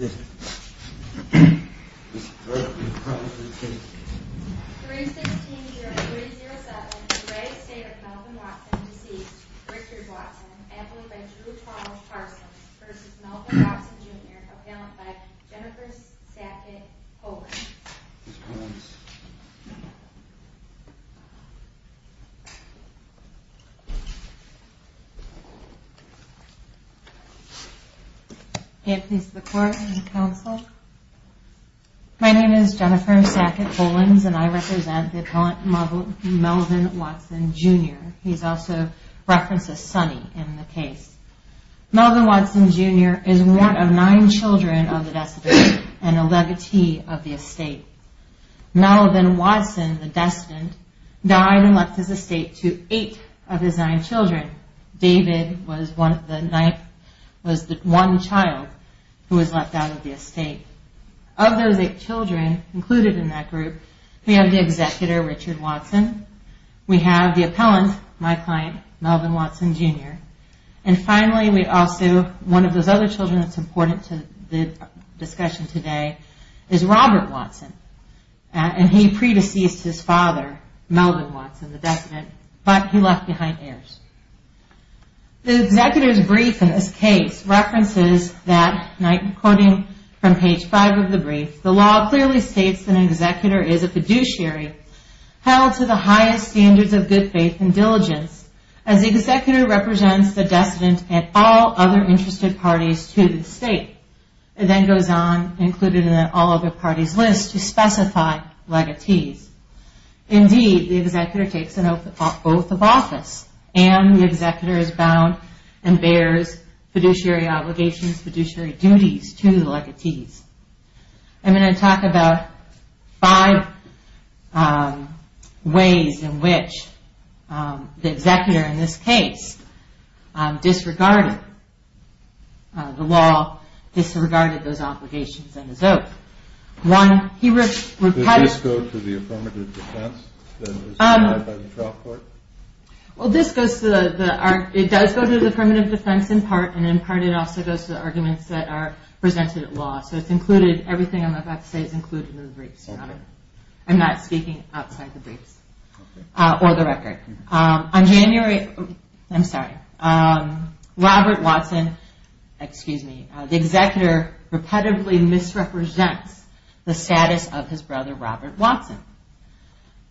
316-307, re Estate of Melvin Watson, deceased, Richard Watson, admitted by Drew Thomas Parsons versus Melvin Watson, Jr., appellant by Jennifer Sackett Hogan. Ms. Collins. My name is Jennifer Sackett Collins and I represent the appellant Melvin Watson, Jr. He is also referenced as Sonny in the case. Melvin Watson, Jr. is one of nine children of the decedent and a legatee of the estate. Melvin Watson, the decedent, died and left his estate to eight of his nine children. David was the one child who was left out of the estate. Of those eight children included in that group, we have the executor, Richard Watson. We have the appellant, my client, Melvin Watson, Jr. And finally, one of those other children that is important to the discussion today is Robert Watson. He predeceased his father, Melvin Watson, the decedent, but he left behind heirs. The executor's brief in this case references that, quoting from page five of the brief, the law clearly states that an executor is a fiduciary held to the highest standards of good faith and diligence. As the executor represents the decedent and all other interested parties to the estate, it then goes on, included in the all other parties list, to specify legatees. Indeed, the executor takes an oath of office and the executor is bound and bears fiduciary obligations, fiduciary duties to the legatees. I'm going to talk about five ways in which the executor in this case disregarded the law, disregarded those obligations and his oath. Does this go to the affirmative defense that is provided by the trial court? Well, this goes to the, it does go to the affirmative defense in part, and in part it also goes to the arguments that are presented at law. So it's included, everything I'm about to say is included in the briefs. I'm not speaking outside the briefs or the record. On January, I'm sorry, Robert Watson, excuse me, the executor repetitively misrepresents the status of his brother, Robert Watson.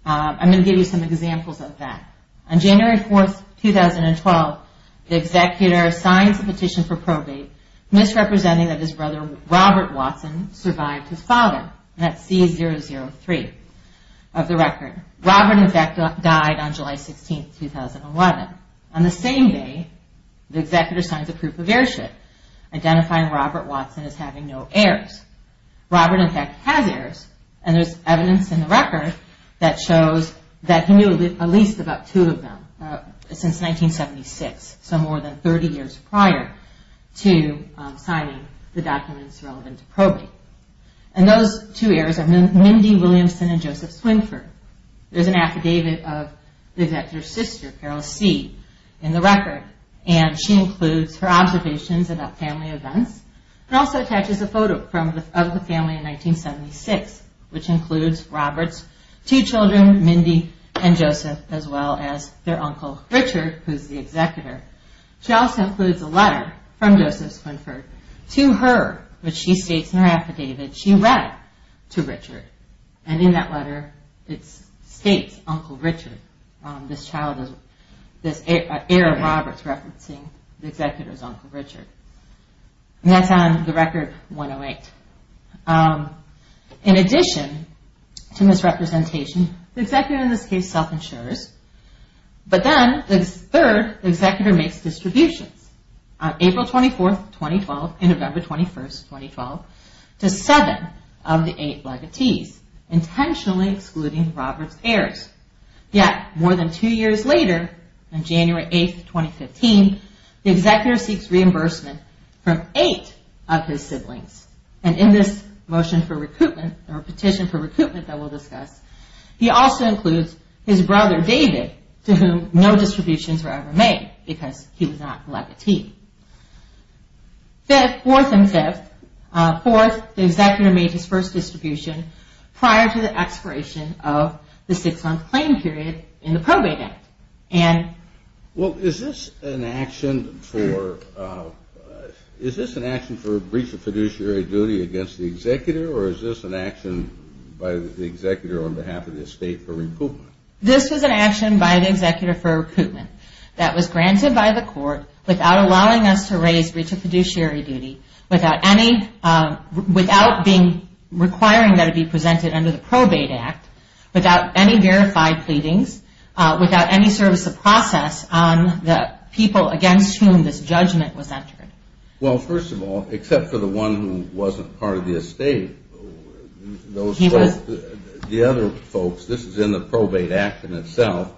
I'm going to give you some examples of that. On January 4th, 2012, the executor signs a petition for probate, misrepresenting that his brother, Robert Watson, survived his father. That's C003 of the record. Robert, in fact, died on July 16th, 2011. On the same day, the executor signs a proof of heirship, identifying Robert Watson as having no heirs. Robert, in fact, has heirs and there's evidence in the record that shows that he knew at least about two of them since 1976, so more than 30 years prior to signing the documents relevant to probate. And those two heirs are Mindy Williamson and Joseph Swinford. There's an affidavit of the executor's sister, Carol C., in the record, and she includes her observations about family events and also attaches a photo of the family in 1976, which includes Robert's two children, Mindy and Joseph, as well as their uncle, Richard, who's the executor. She also includes a letter from Joseph Swinford to her, which she states in her affidavit, she read to Richard. And in that letter, it states Uncle Richard, this heir of Robert's referencing the executor's uncle, Richard. And that's on the record 108. In addition to misrepresentation, the executor in this case self-insures, but then the third executor makes distributions. On April 24, 2012 and November 21, 2012, to seven of the eight legatees, intentionally excluding Robert's heirs. Yet, more than two years later, on January 8, 2015, the executor seeks reimbursement from eight of his siblings. And in this motion for recoupment, or petition for recoupment that we'll discuss, he also includes his brother, David, to whom no distributions were ever made because he was not a legatee. Fourth and fifth, fourth, the executor made his first distribution prior to the expiration of the six-month claim period in the Probate Act. Well, is this an action for breach of fiduciary duty against the executor, or is this an action by the executor on behalf of the estate for recoupment? This was an action by the executor for recoupment that was granted by the court without allowing us to raise breach of fiduciary duty, without requiring that it be presented under the Probate Act, without any verified pleadings, without any service of process on the people against whom this judgment was entered. Well, first of all, except for the one who wasn't part of the estate, those folks, the other folks, this is in the Probate Act in itself,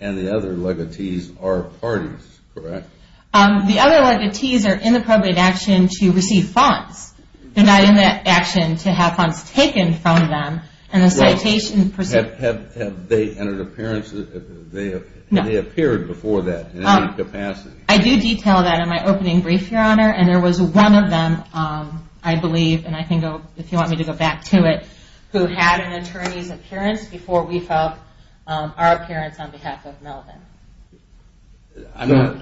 and the other legatees are parties, correct? The other legatees are in the Probate Act to receive funds. They're not in that action to have funds taken from them, and the citation pursuant... Have they entered an appearance? No. Have they appeared before that in any capacity? I do detail that in my opening brief, Your Honor, and there was one of them, I believe, and I can go, if you want me to go back to it, who had an attorney's appearance before we felt our appearance on behalf of Melvin.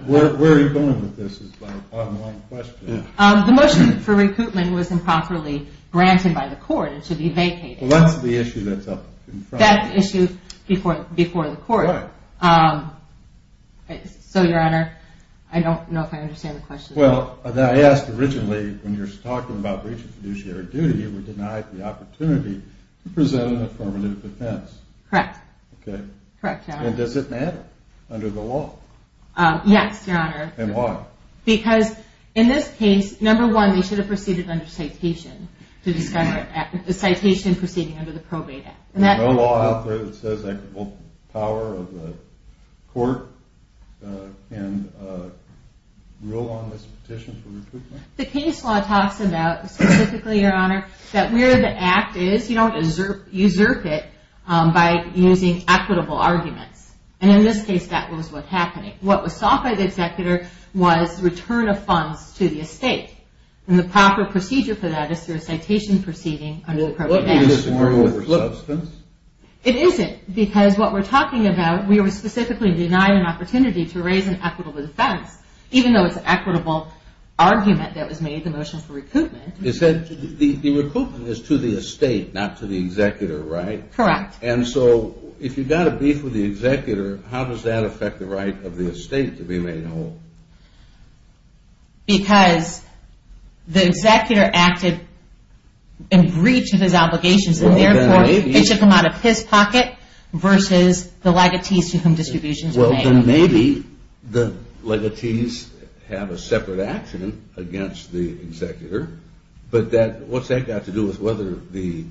Where are you going with this is my question. The motion for recoupment was improperly granted by the court. It should be vacated. Well, that's the issue that's up in front. That's the issue before the court. Right. So, Your Honor, I don't know if I understand the question. Well, I asked originally, when you were talking about breach of fiduciary duty, you were denied the opportunity to present an affirmative defense. Correct. Okay. Correct, Your Honor. And does it matter under the law? Yes, Your Honor. And why? Because in this case, number one, they should have proceeded under citation to discover the citation proceeding under the Probate Act. No law out there that says equitable power of the court can rule on this petition for recoupment? The case law talks about, specifically, Your Honor, that where the act is, you don't usurp it by using equitable arguments. And in this case, that was what happened. What was sought by the executor was return of funds to the estate. And the proper procedure for that is through a citation proceeding under the Probate Act. It isn't. Because what we're talking about, we were specifically denied an opportunity to raise an equitable defense, even though it's an equitable argument that was made in the motion for recoupment. The recoupment is to the estate, not to the executor, right? Correct. And so, if you've got a beef with the executor, how does that affect the right of the estate to be made whole? Because the executor acted in breach of his obligations. And therefore, they took them out of his pocket versus the legatees to whom distributions were made. Well, then maybe the legatees have a separate action against the executor. But what's that got to do with whether the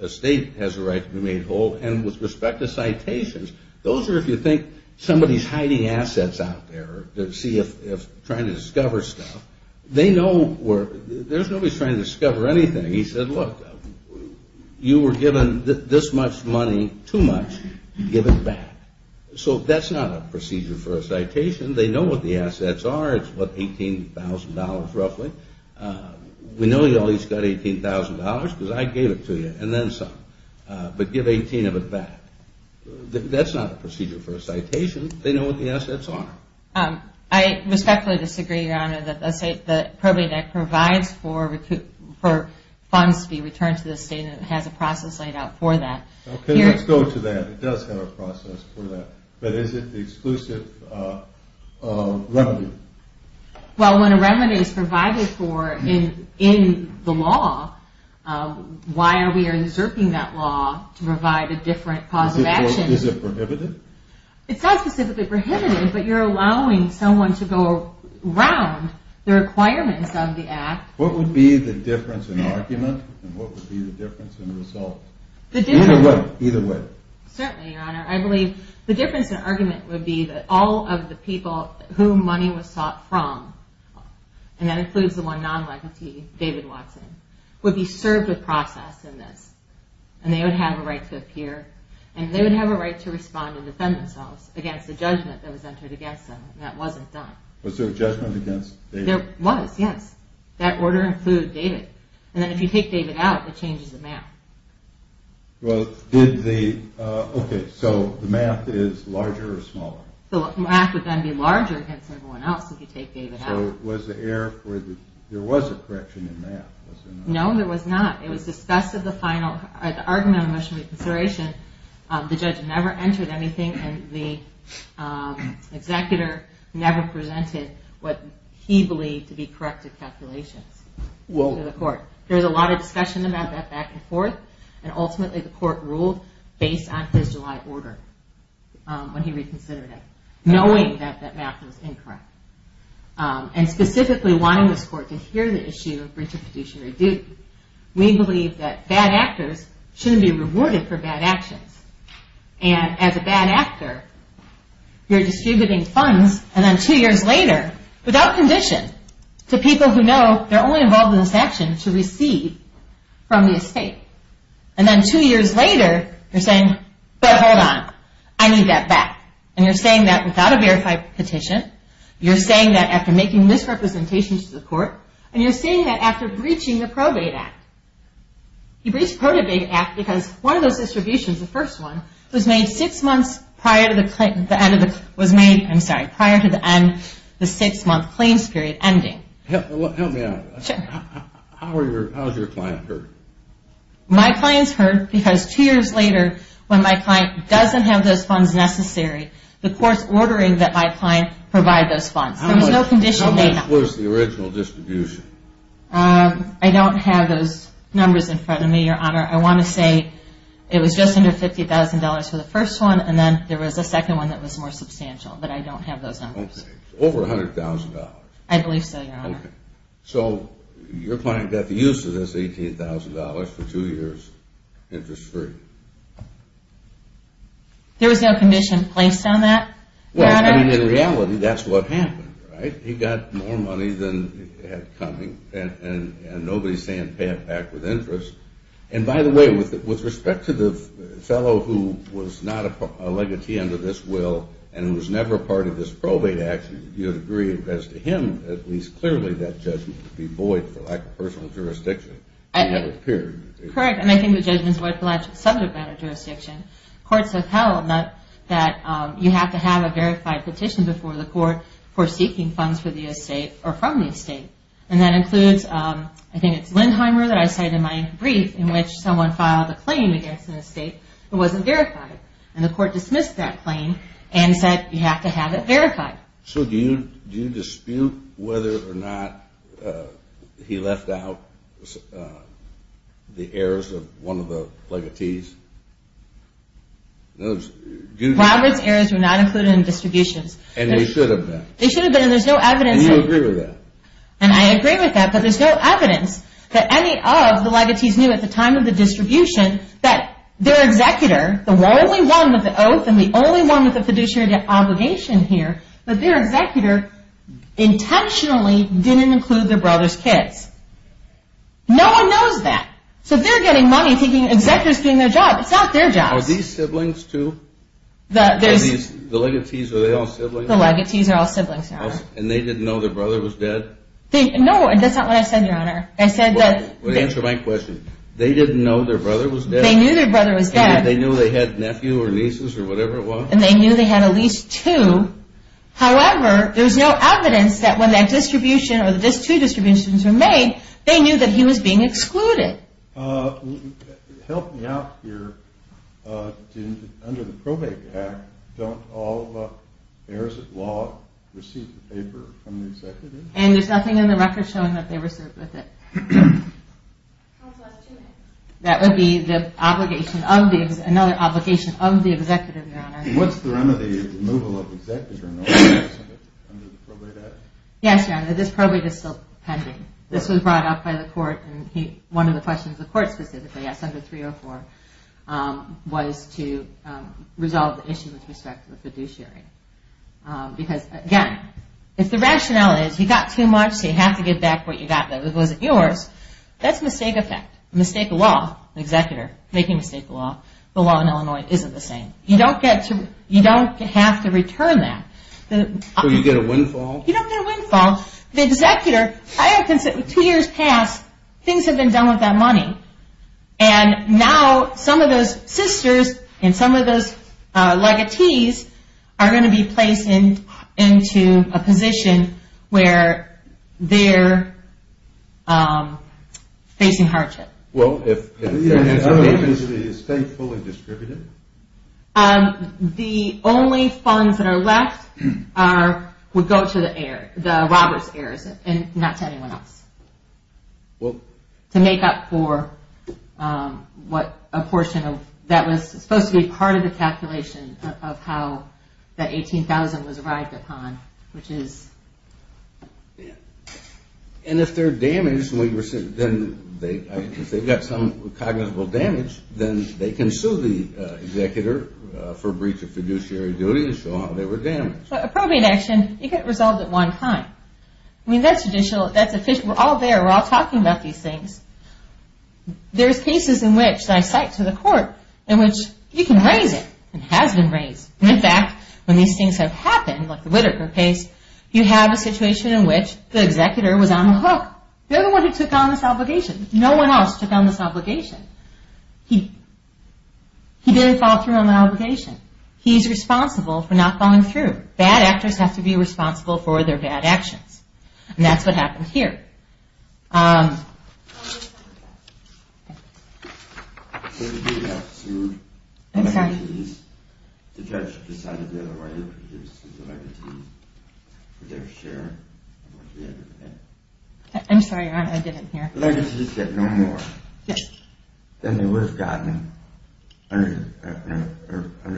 estate has a right to be made whole? And with respect to citations, those are, if you think, somebody's hiding assets out there. They're trying to discover stuff. There's nobody trying to discover anything. He said, look, you were given this much money, too much, give it back. So that's not a procedure for a citation. They know what the assets are. It's, what, $18,000 roughly. We know you always got $18,000 because I gave it to you, and then some. That's not a procedure for a citation. They know what the assets are. I respectfully disagree, Your Honor, that the probate act provides for funds to be returned to the estate, and it has a process laid out for that. Okay, let's go to that. It does have a process for that. But is it the exclusive revenue? Well, when a revenue is provided for in the law, why are we usurping that law to provide a different cause of action? Is it prohibited? It's not specifically prohibited, but you're allowing someone to go around the requirements of the act. What would be the difference in argument, and what would be the difference in result? Either way. Certainly, Your Honor. I believe the difference in argument would be that all of the people whom money was sought from, and that includes the one non-legalty, David Watson, would be served with process in this, and they would have a right to appear, and they would have a right to respond and defend themselves against the judgment that was entered against them, and that wasn't done. Was there a judgment against David? There was, yes. That order included David. And then if you take David out, it changes the math. Okay, so the math is larger or smaller? The math would then be larger against everyone else if you take David out. So there was a correction in math, was there not? No, there was not. It was discussed at the argument of motion of reconsideration. The judge never entered anything, and the executor never presented what he believed to be corrective calculations to the court. There was a lot of discussion about that back and forth, and ultimately the court ruled based on his July order when he reconsidered it, knowing that that math was incorrect, and specifically wanting this court to hear the issue of breach of fiduciary duty. We believe that bad actors shouldn't be rewarded for bad actions. And as a bad actor, you're distributing funds, and then two years later, without condition, to people who know they're only involved in this action to receive from the estate. And then two years later, you're saying, but hold on, I need that back. And you're saying that without a verified petition, you're saying that after making misrepresentations to the court, and you're saying that after breaching the Probate Act. You breached the Probate Act because one of those distributions, the first one, was made six months prior to the end of the six-month claims period ending. Help me out. Sure. How has your client heard? My client's heard because two years later, when my client doesn't have those funds necessary, the court's ordering that my client provide those funds. There was no condition made. What was the original distribution? I don't have those numbers in front of me, Your Honor. I want to say it was just under $50,000 for the first one, and then there was a second one that was more substantial. But I don't have those numbers. Okay. Over $100,000. I believe so, Your Honor. Okay. So your client got the use of this $18,000 for two years, interest-free. There was no condition placed on that, Your Honor. Well, I mean, in reality, that's what happened, right? He got more money than he had coming, and nobody's saying pay it back with interest. And by the way, with respect to the fellow who was not a legatee under this will and who was never a part of this probate action, do you agree as to him, at least clearly, that judgment would be void for lack of personal jurisdiction? Correct, and I think the judgment's void for lack of subject matter jurisdiction. Courts have held that you have to have a verified petition before the court for seeking funds for the estate or from the estate. And that includes, I think it's Lindheimer that I cited in my brief, in which someone filed a claim against an estate that wasn't verified. And the court dismissed that claim and said you have to have it verified. So do you dispute whether or not he left out the heirs of one of the legatees? Robert's heirs were not included in distributions. And they should have been. They should have been, and there's no evidence. And you agree with that? And I agree with that, but there's no evidence that any of the legatees knew at the time of the distribution that their executor, the only one with the oath and the only one with the fiduciary obligation here, that their executor intentionally didn't include their brother's kids. No one knows that. So if they're getting money, thinking the executor's doing their job, it's not their job. Are these siblings too? The legatees, are they all siblings? The legatees are all siblings, Your Honor. And they didn't know their brother was dead? No, that's not what I said, Your Honor. Well, answer my question. They didn't know their brother was dead? They knew their brother was dead. And they knew they had nephew or nieces or whatever it was? And they knew they had at least two. However, there's no evidence that when that distribution or the two distributions were made, they knew that he was being excluded. Help me out here. Under the Probate Act, don't all heirs of law receive the paper from the executive? And there's nothing in the record showing that they were served with it? That would be another obligation of the executive, Your Honor. What's the remedy of removal of the executive under the Probate Act? Yes, Your Honor, this probate is still pending. This was brought up by the court, and one of the questions the court specifically asked under 304 was to resolve the issue with respect to the fiduciary. Because, again, if the rationale is you got too much, so you have to get back what you got that wasn't yours, that's a mistake of fact. A mistake of law, an executor making a mistake of law, the law in Illinois isn't the same. You don't have to return that. So you get a windfall? You don't get a windfall. The executor, two years passed, things have been done with that money, and now some of those sisters and some of those legatees are going to be placed into a position where they're facing hardship. Well, if the agency is faithful and distributive? The only funds that are left would go to the air, the robbers' heirs, and not to anyone else, to make up for what a portion of that was supposed to be part of the calculation of how that $18,000 was arrived upon, which is... And if they're damaged, if they've got some cognizable damage, then they can sue the executor for breach of fiduciary duty and show how they were damaged. A probate action, you get resolved at one time. I mean, that's judicial, that's official, we're all there, we're all talking about these things. There's cases in which, and I cite to the court, in which you can raise it, and it has been raised. In fact, when these things have happened, like the Whitaker case, you have a situation in which the executor was on the hook. They're the ones who took on this obligation. No one else took on this obligation. He didn't follow through on the obligation. He's responsible for not following through. Bad actors have to be responsible for their bad actions. And that's what happened here. Um... I'm sorry, I didn't hear. Legacies get no more than they would have gotten under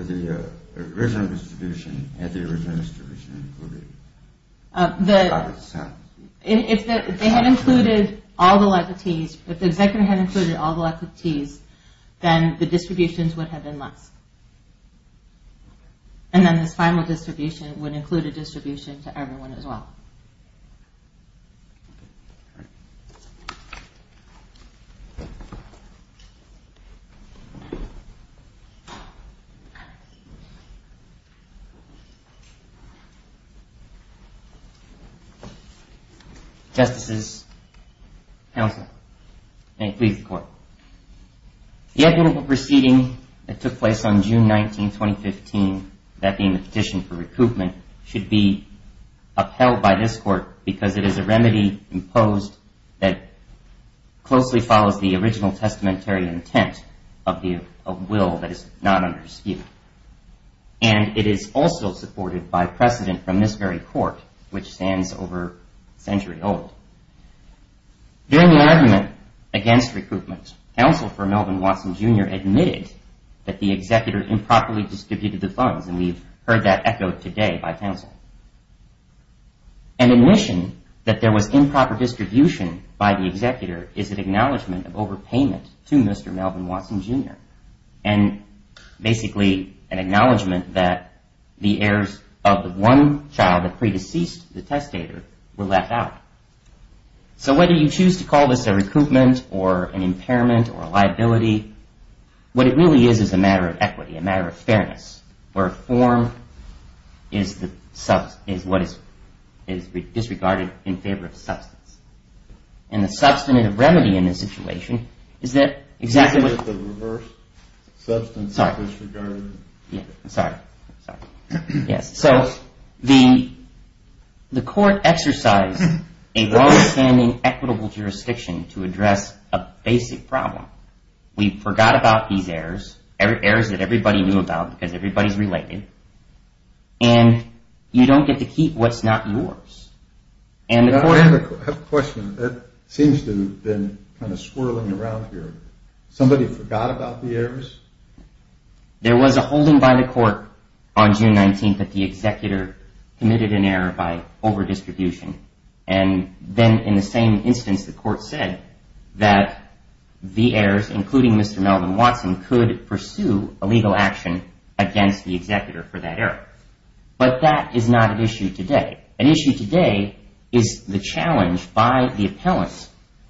the original distribution, had the original distribution included. If they had included all the legacies, if the executor had included all the legacies, then the distributions would have been less. And then this final distribution would include a distribution to everyone as well. Thank you. Justices, counsel, may it please the court. The equitable proceeding that took place on June 19, 2015, that being the petition for recoupment, should be upheld by this court because it is a remedy imposed that closely follows the original testamentary intent of will that is not under skewed. And it is also supported by precedent from this very court, which stands over a century old. During the argument against recoupment, counsel for Melvin Watson, Jr. admitted that the executor improperly distributed the funds, and we've heard that echoed today by counsel. An admission that there was improper distribution by the executor is an acknowledgment of overpayment to Mr. Melvin Watson, Jr., and basically an acknowledgment that the heirs of the one child that pre-deceased the testator were left out. So whether you choose to call this a recoupment or an impairment or a liability, what it really is is a matter of equity, a matter of fairness, where form is what is disregarded in favor of substance. And the substantive remedy in this situation is that exactly what... You said the reverse. Substance is disregarded. Sorry. Yes. So the court exercised a long-standing equitable jurisdiction to address a basic problem. We forgot about these errors, errors that everybody knew about because everybody's related, and you don't get to keep what's not yours. I have a question that seems to have been kind of swirling around here. Somebody forgot about the errors? There was a holding by the court on June 19th that the executor committed an error by overdistribution, and then in the same instance the court said that the heirs, including Mr. Melvin Watson, could pursue a legal action against the executor for that error. But that is not an issue today. An issue today is the challenge by the appellants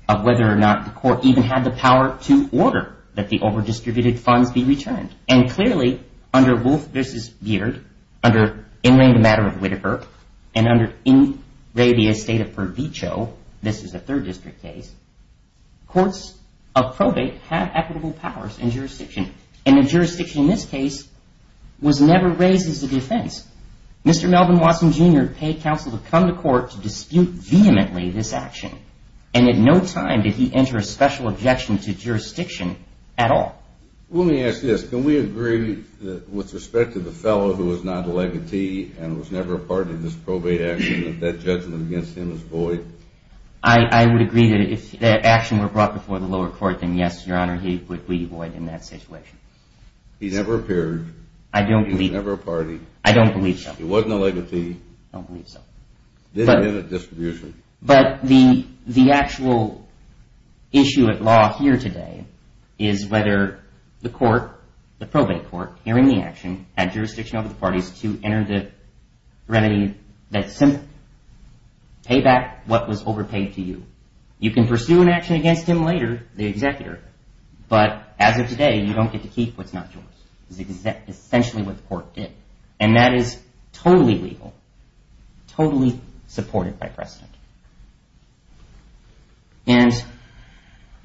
of whether or not the court even had the power to order that the overdistributed funds be returned. And clearly under Wolf v. Beard, under Inland Matter of Whittaker, and under Inrabia State of Pervecho, this is a Third District case, courts of probate have equitable powers in jurisdiction, and the jurisdiction in this case was never raised as a defense. Mr. Melvin Watson, Jr. paid counsel to come to court to dispute vehemently this action, and at no time did he enter a special objection to jurisdiction at all. Let me ask this. Can we agree that with respect to the fellow who was not a legatee and was never a part of this probate action, that that judgment against him is void? I would agree that if that action were brought before the lower court, then yes, Your Honor, he would be void in that situation. He never appeared. I don't believe so. He was never a party. I don't believe so. He wasn't a legatee. I don't believe so. He didn't get a distribution. But the actual issue at law here today is whether the court, the probate court, hearing the action, had jurisdiction over the parties to enter the remedy that simply paid back what was overpaid to you. You can pursue an action against him later, the executor, but as of today, you don't get to keep what's not yours. It's essentially what the court did. And that is totally legal, totally supported by precedent. And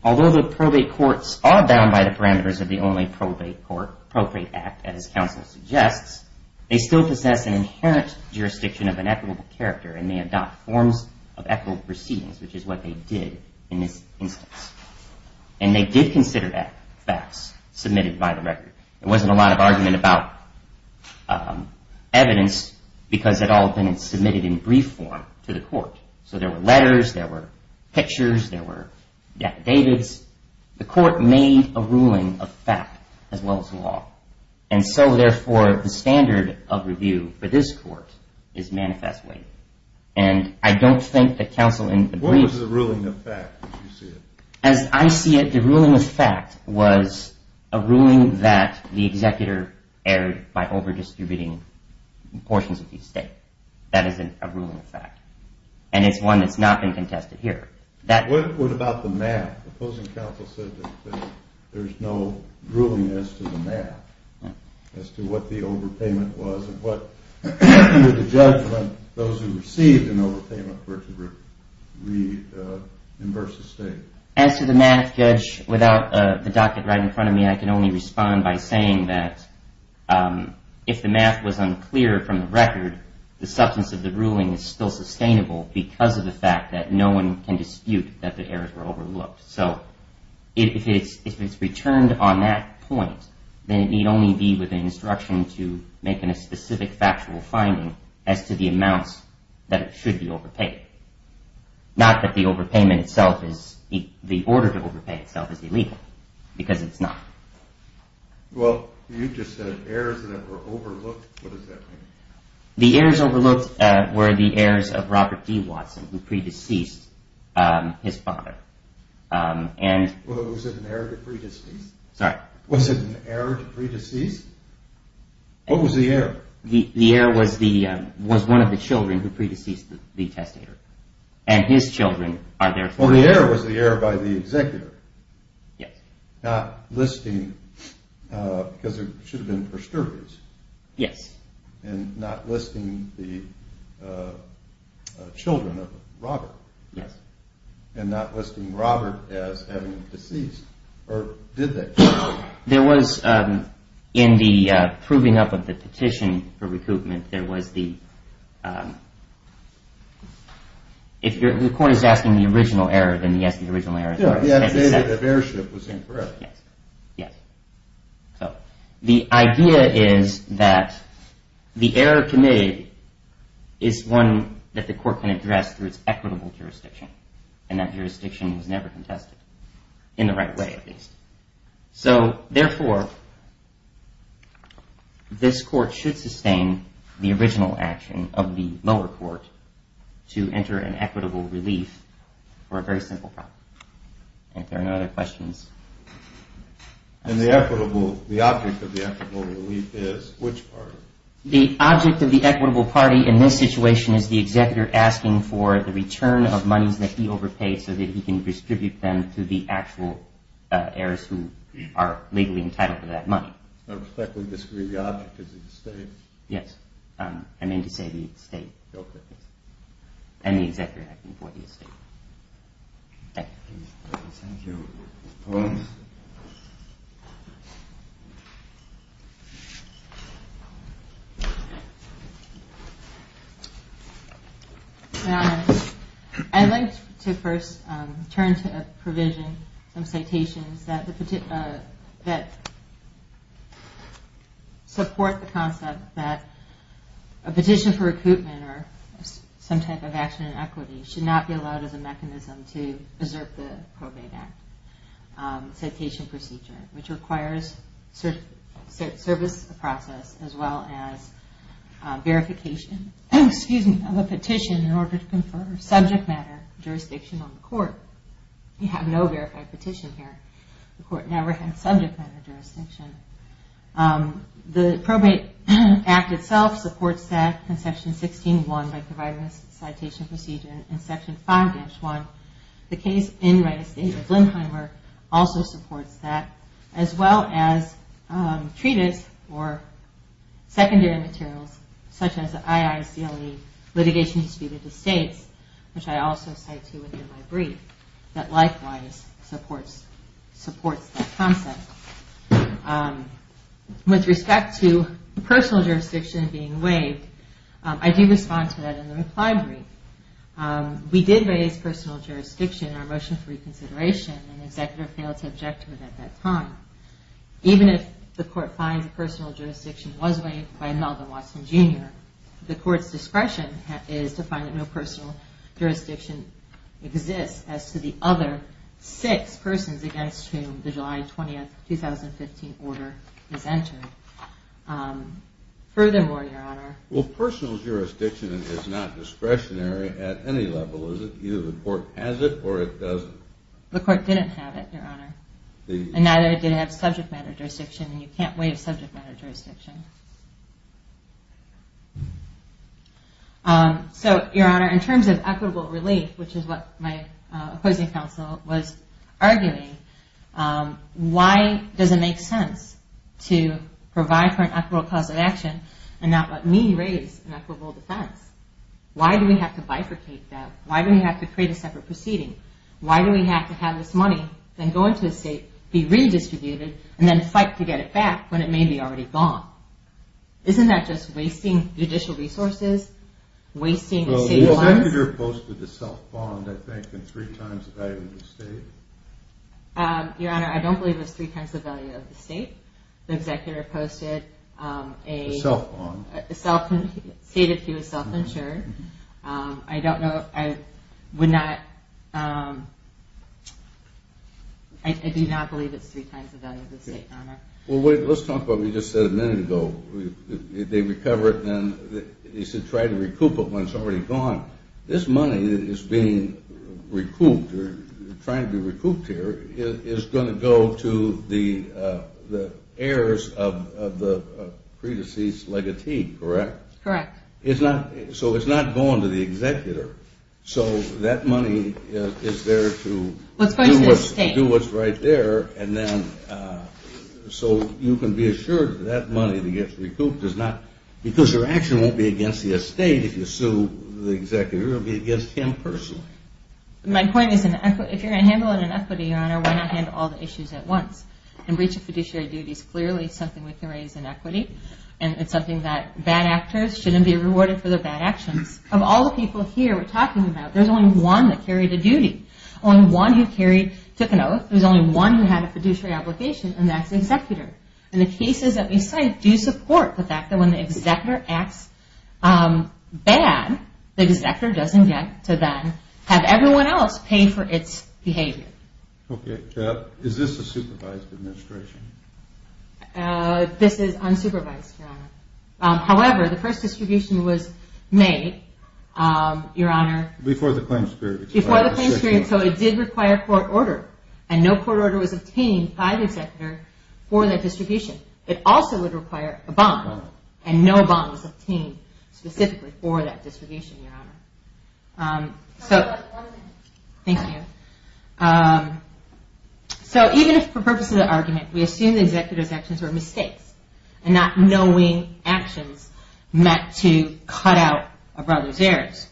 although the probate courts are bound by the parameters of the only probate act, as counsel suggests, they still possess an inherent jurisdiction of an equitable character and may adopt forms of equitable proceedings, which is what they did in this instance. And they did consider that facts submitted by the record. There wasn't a lot of argument about evidence because it had all been submitted in brief form to the court. So there were letters. There were pictures. There were data. The court made a ruling of fact as well as law. And so, therefore, the standard of review for this court is manifestly. And I don't think that counsel in the brief— What was the ruling of fact as you see it? As I see it, the ruling of fact was a ruling that the executor erred by overdistributing portions of the estate. That is a ruling of fact. And it's one that's not been contested here. What about the math? The opposing counsel said that there's no ruling as to the math, as to what the overpayment was and what, under the judgment, those who received an overpayment were to reimburse the estate. As to the math, Judge, without the docket right in front of me, I can only respond by saying that if the math was unclear from the record, the substance of the ruling is still sustainable because of the fact that no one can dispute that the errors were overlooked. So if it's returned on that point, then it need only be with an instruction to make a specific factual finding as to the amounts that it should be overpaid. Not that the order to overpay itself is illegal, because it's not. Well, you just said errors that were overlooked. What does that mean? The errors overlooked were the errors of Robert D. Watson, who pre-deceased his father. Was it an error to pre-decease? Sorry? Was it an error to pre-decease? What was the error? The error was one of the children who pre-deceased the testator. And his children are therefore... Well, the error was the error by the executor. Yes. Not listing, because there should have been prosterities. Yes. And not listing the children of Robert. Yes. And not listing Robert as having deceased, or did they? There was, in the proving up of the petition for recoupment, there was the... If the court is asking the original error, then yes, the original error is correct. The updated of heirship was incorrect. Yes. Yes. So, the idea is that the error committed is one that the court can address through its equitable jurisdiction. And that jurisdiction was never contested. In the right way, at least. So, therefore, this court should sustain the original action of the lower court to enter an equitable relief for a very simple problem. If there are no other questions... And the object of the equitable relief is which party? The object of the equitable party in this situation is the executor asking for the return of monies that he overpaid so that he can distribute them to the actual heirs who are legally entitled to that money. I respectfully disagree. The object is the estate. Yes. I mean to say the estate. And the executor asking for the estate. Thank you. Thank you. I'd like to first turn to a provision, some citations that support the concept that a petition for recoupment or some type of action in equity should not be allowed as a mechanism to preserve the Probate Act citation procedure, which requires service of process as well as verification of a petition in order to confer subject matter jurisdiction on the court. You have no verified petition here. The court never had subject matter jurisdiction. The Probate Act itself supports that in section 16.1 by providing a citation procedure in section 5-1. The case in Wright Estate of Lindheimer also supports that as well as treatise or secondary materials such as the IICLE litigation disputed to states, which I also cite to within my brief, that likewise supports that concept. With respect to personal jurisdiction being waived, I do respond to that in the reply brief. We did raise personal jurisdiction in our motion for reconsideration and the executor failed to object to it at that time. Even if the court finds that personal jurisdiction was waived by Melvin Watson, Jr., the court's discretion is to find that no personal jurisdiction exists as to the other six persons against whom the July 20, 2015 order is entered. Furthermore, Your Honor... Well, personal jurisdiction is not discretionary at any level, is it? Either the court has it or it doesn't. The court didn't have it, Your Honor. And neither did it have subject matter jurisdiction, and you can't waive subject matter jurisdiction. So, Your Honor, in terms of equitable relief, which is what my opposing counsel was arguing, why does it make sense to provide for an equitable cause of action and not let me raise an equitable defense? Why do we have to bifurcate that? Why do we have to create a separate proceeding? Why do we have to have this money, then go into a state, be redistributed, and then fight to get it back when it may be already gone? Isn't that just wasting judicial resources, wasting state funds? The executor posted a self-bond, I think, in three times the value of the state. Your Honor, I don't believe it was three times the value of the state. The executor posted a... A self-bond. Stated he was self-insured. I don't know, I would not... I do not believe it's three times the value of the state, Your Honor. Well, let's talk about what you just said a minute ago. They recover it, then they should try to recoup it when it's already gone. This money that is being recouped or trying to be recouped here is going to go to the heirs of the pre-deceased legatee, correct? Correct. So it's not going to the executor. So that money is there to do what's right there. So you can be assured that that money that gets recouped does not... Because your action won't be against the estate if you sue the executor. It will be against him personally. My point is, if you're going to handle it in equity, Your Honor, why not handle all the issues at once? And breach of fiduciary duty is clearly something we can raise in equity. And it's something that bad actors shouldn't be rewarded for their bad actions. Of all the people here we're talking about, there's only one that carried a duty. Only one who took an oath. There's only one who had a fiduciary application, and that's the executor. And the cases that we cite do support the fact that when the executor acts bad, the executor doesn't get to then have everyone else pay for its behavior. Okay. Is this a supervised administration? This is unsupervised, Your Honor. However, the first distribution was made, Your Honor... Before the claims period expired. Before the claims period. So it did require court order. And no court order was obtained by the executor for that distribution. It also would require a bond. And no bond was obtained specifically for that distribution, Your Honor. So... One second. Thank you. So even if for purposes of argument we assume the executor's actions were mistakes, and not knowing actions meant to cut out a brother's heirs,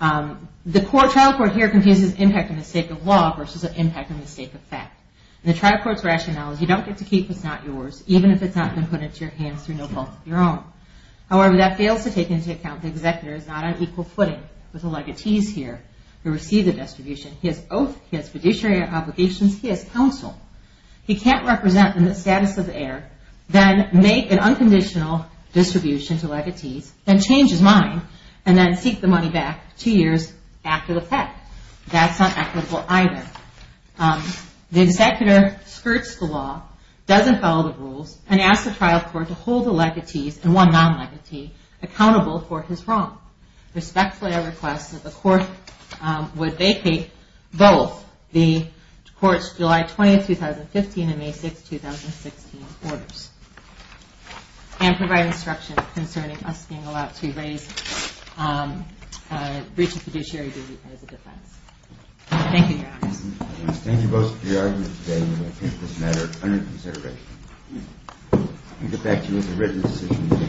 the trial court here confuses impact and mistake of law versus impact and mistake of fact. And the trial court's rationale is you don't get to keep what's not yours, even if it's not been put into your hands through no fault of your own. However, that fails to take into account the executor is not on equal footing with the legatees here who receive the distribution. He has oath, he has fiduciary obligations, he has counsel. He can't represent in the status of the heir, then make an unconditional distribution to legatees, then change his mind, and then seek the money back two years after the fact. That's not equitable either. The executor skirts the law, doesn't follow the rules, and asks the trial court to hold the legatees and one non-legatee accountable for his wrong. Respectfully, I request that the court would vacate both the court's July 20, 2015, and May 6, 2016 orders, and provide instructions concerning us being allowed to raise a breach of fiduciary duty as a defense. Thank you, Your Honors. Thank you both for your argument today. We will take this matter under consideration. We'll get back to you with the written decision in a short recess. Thank you.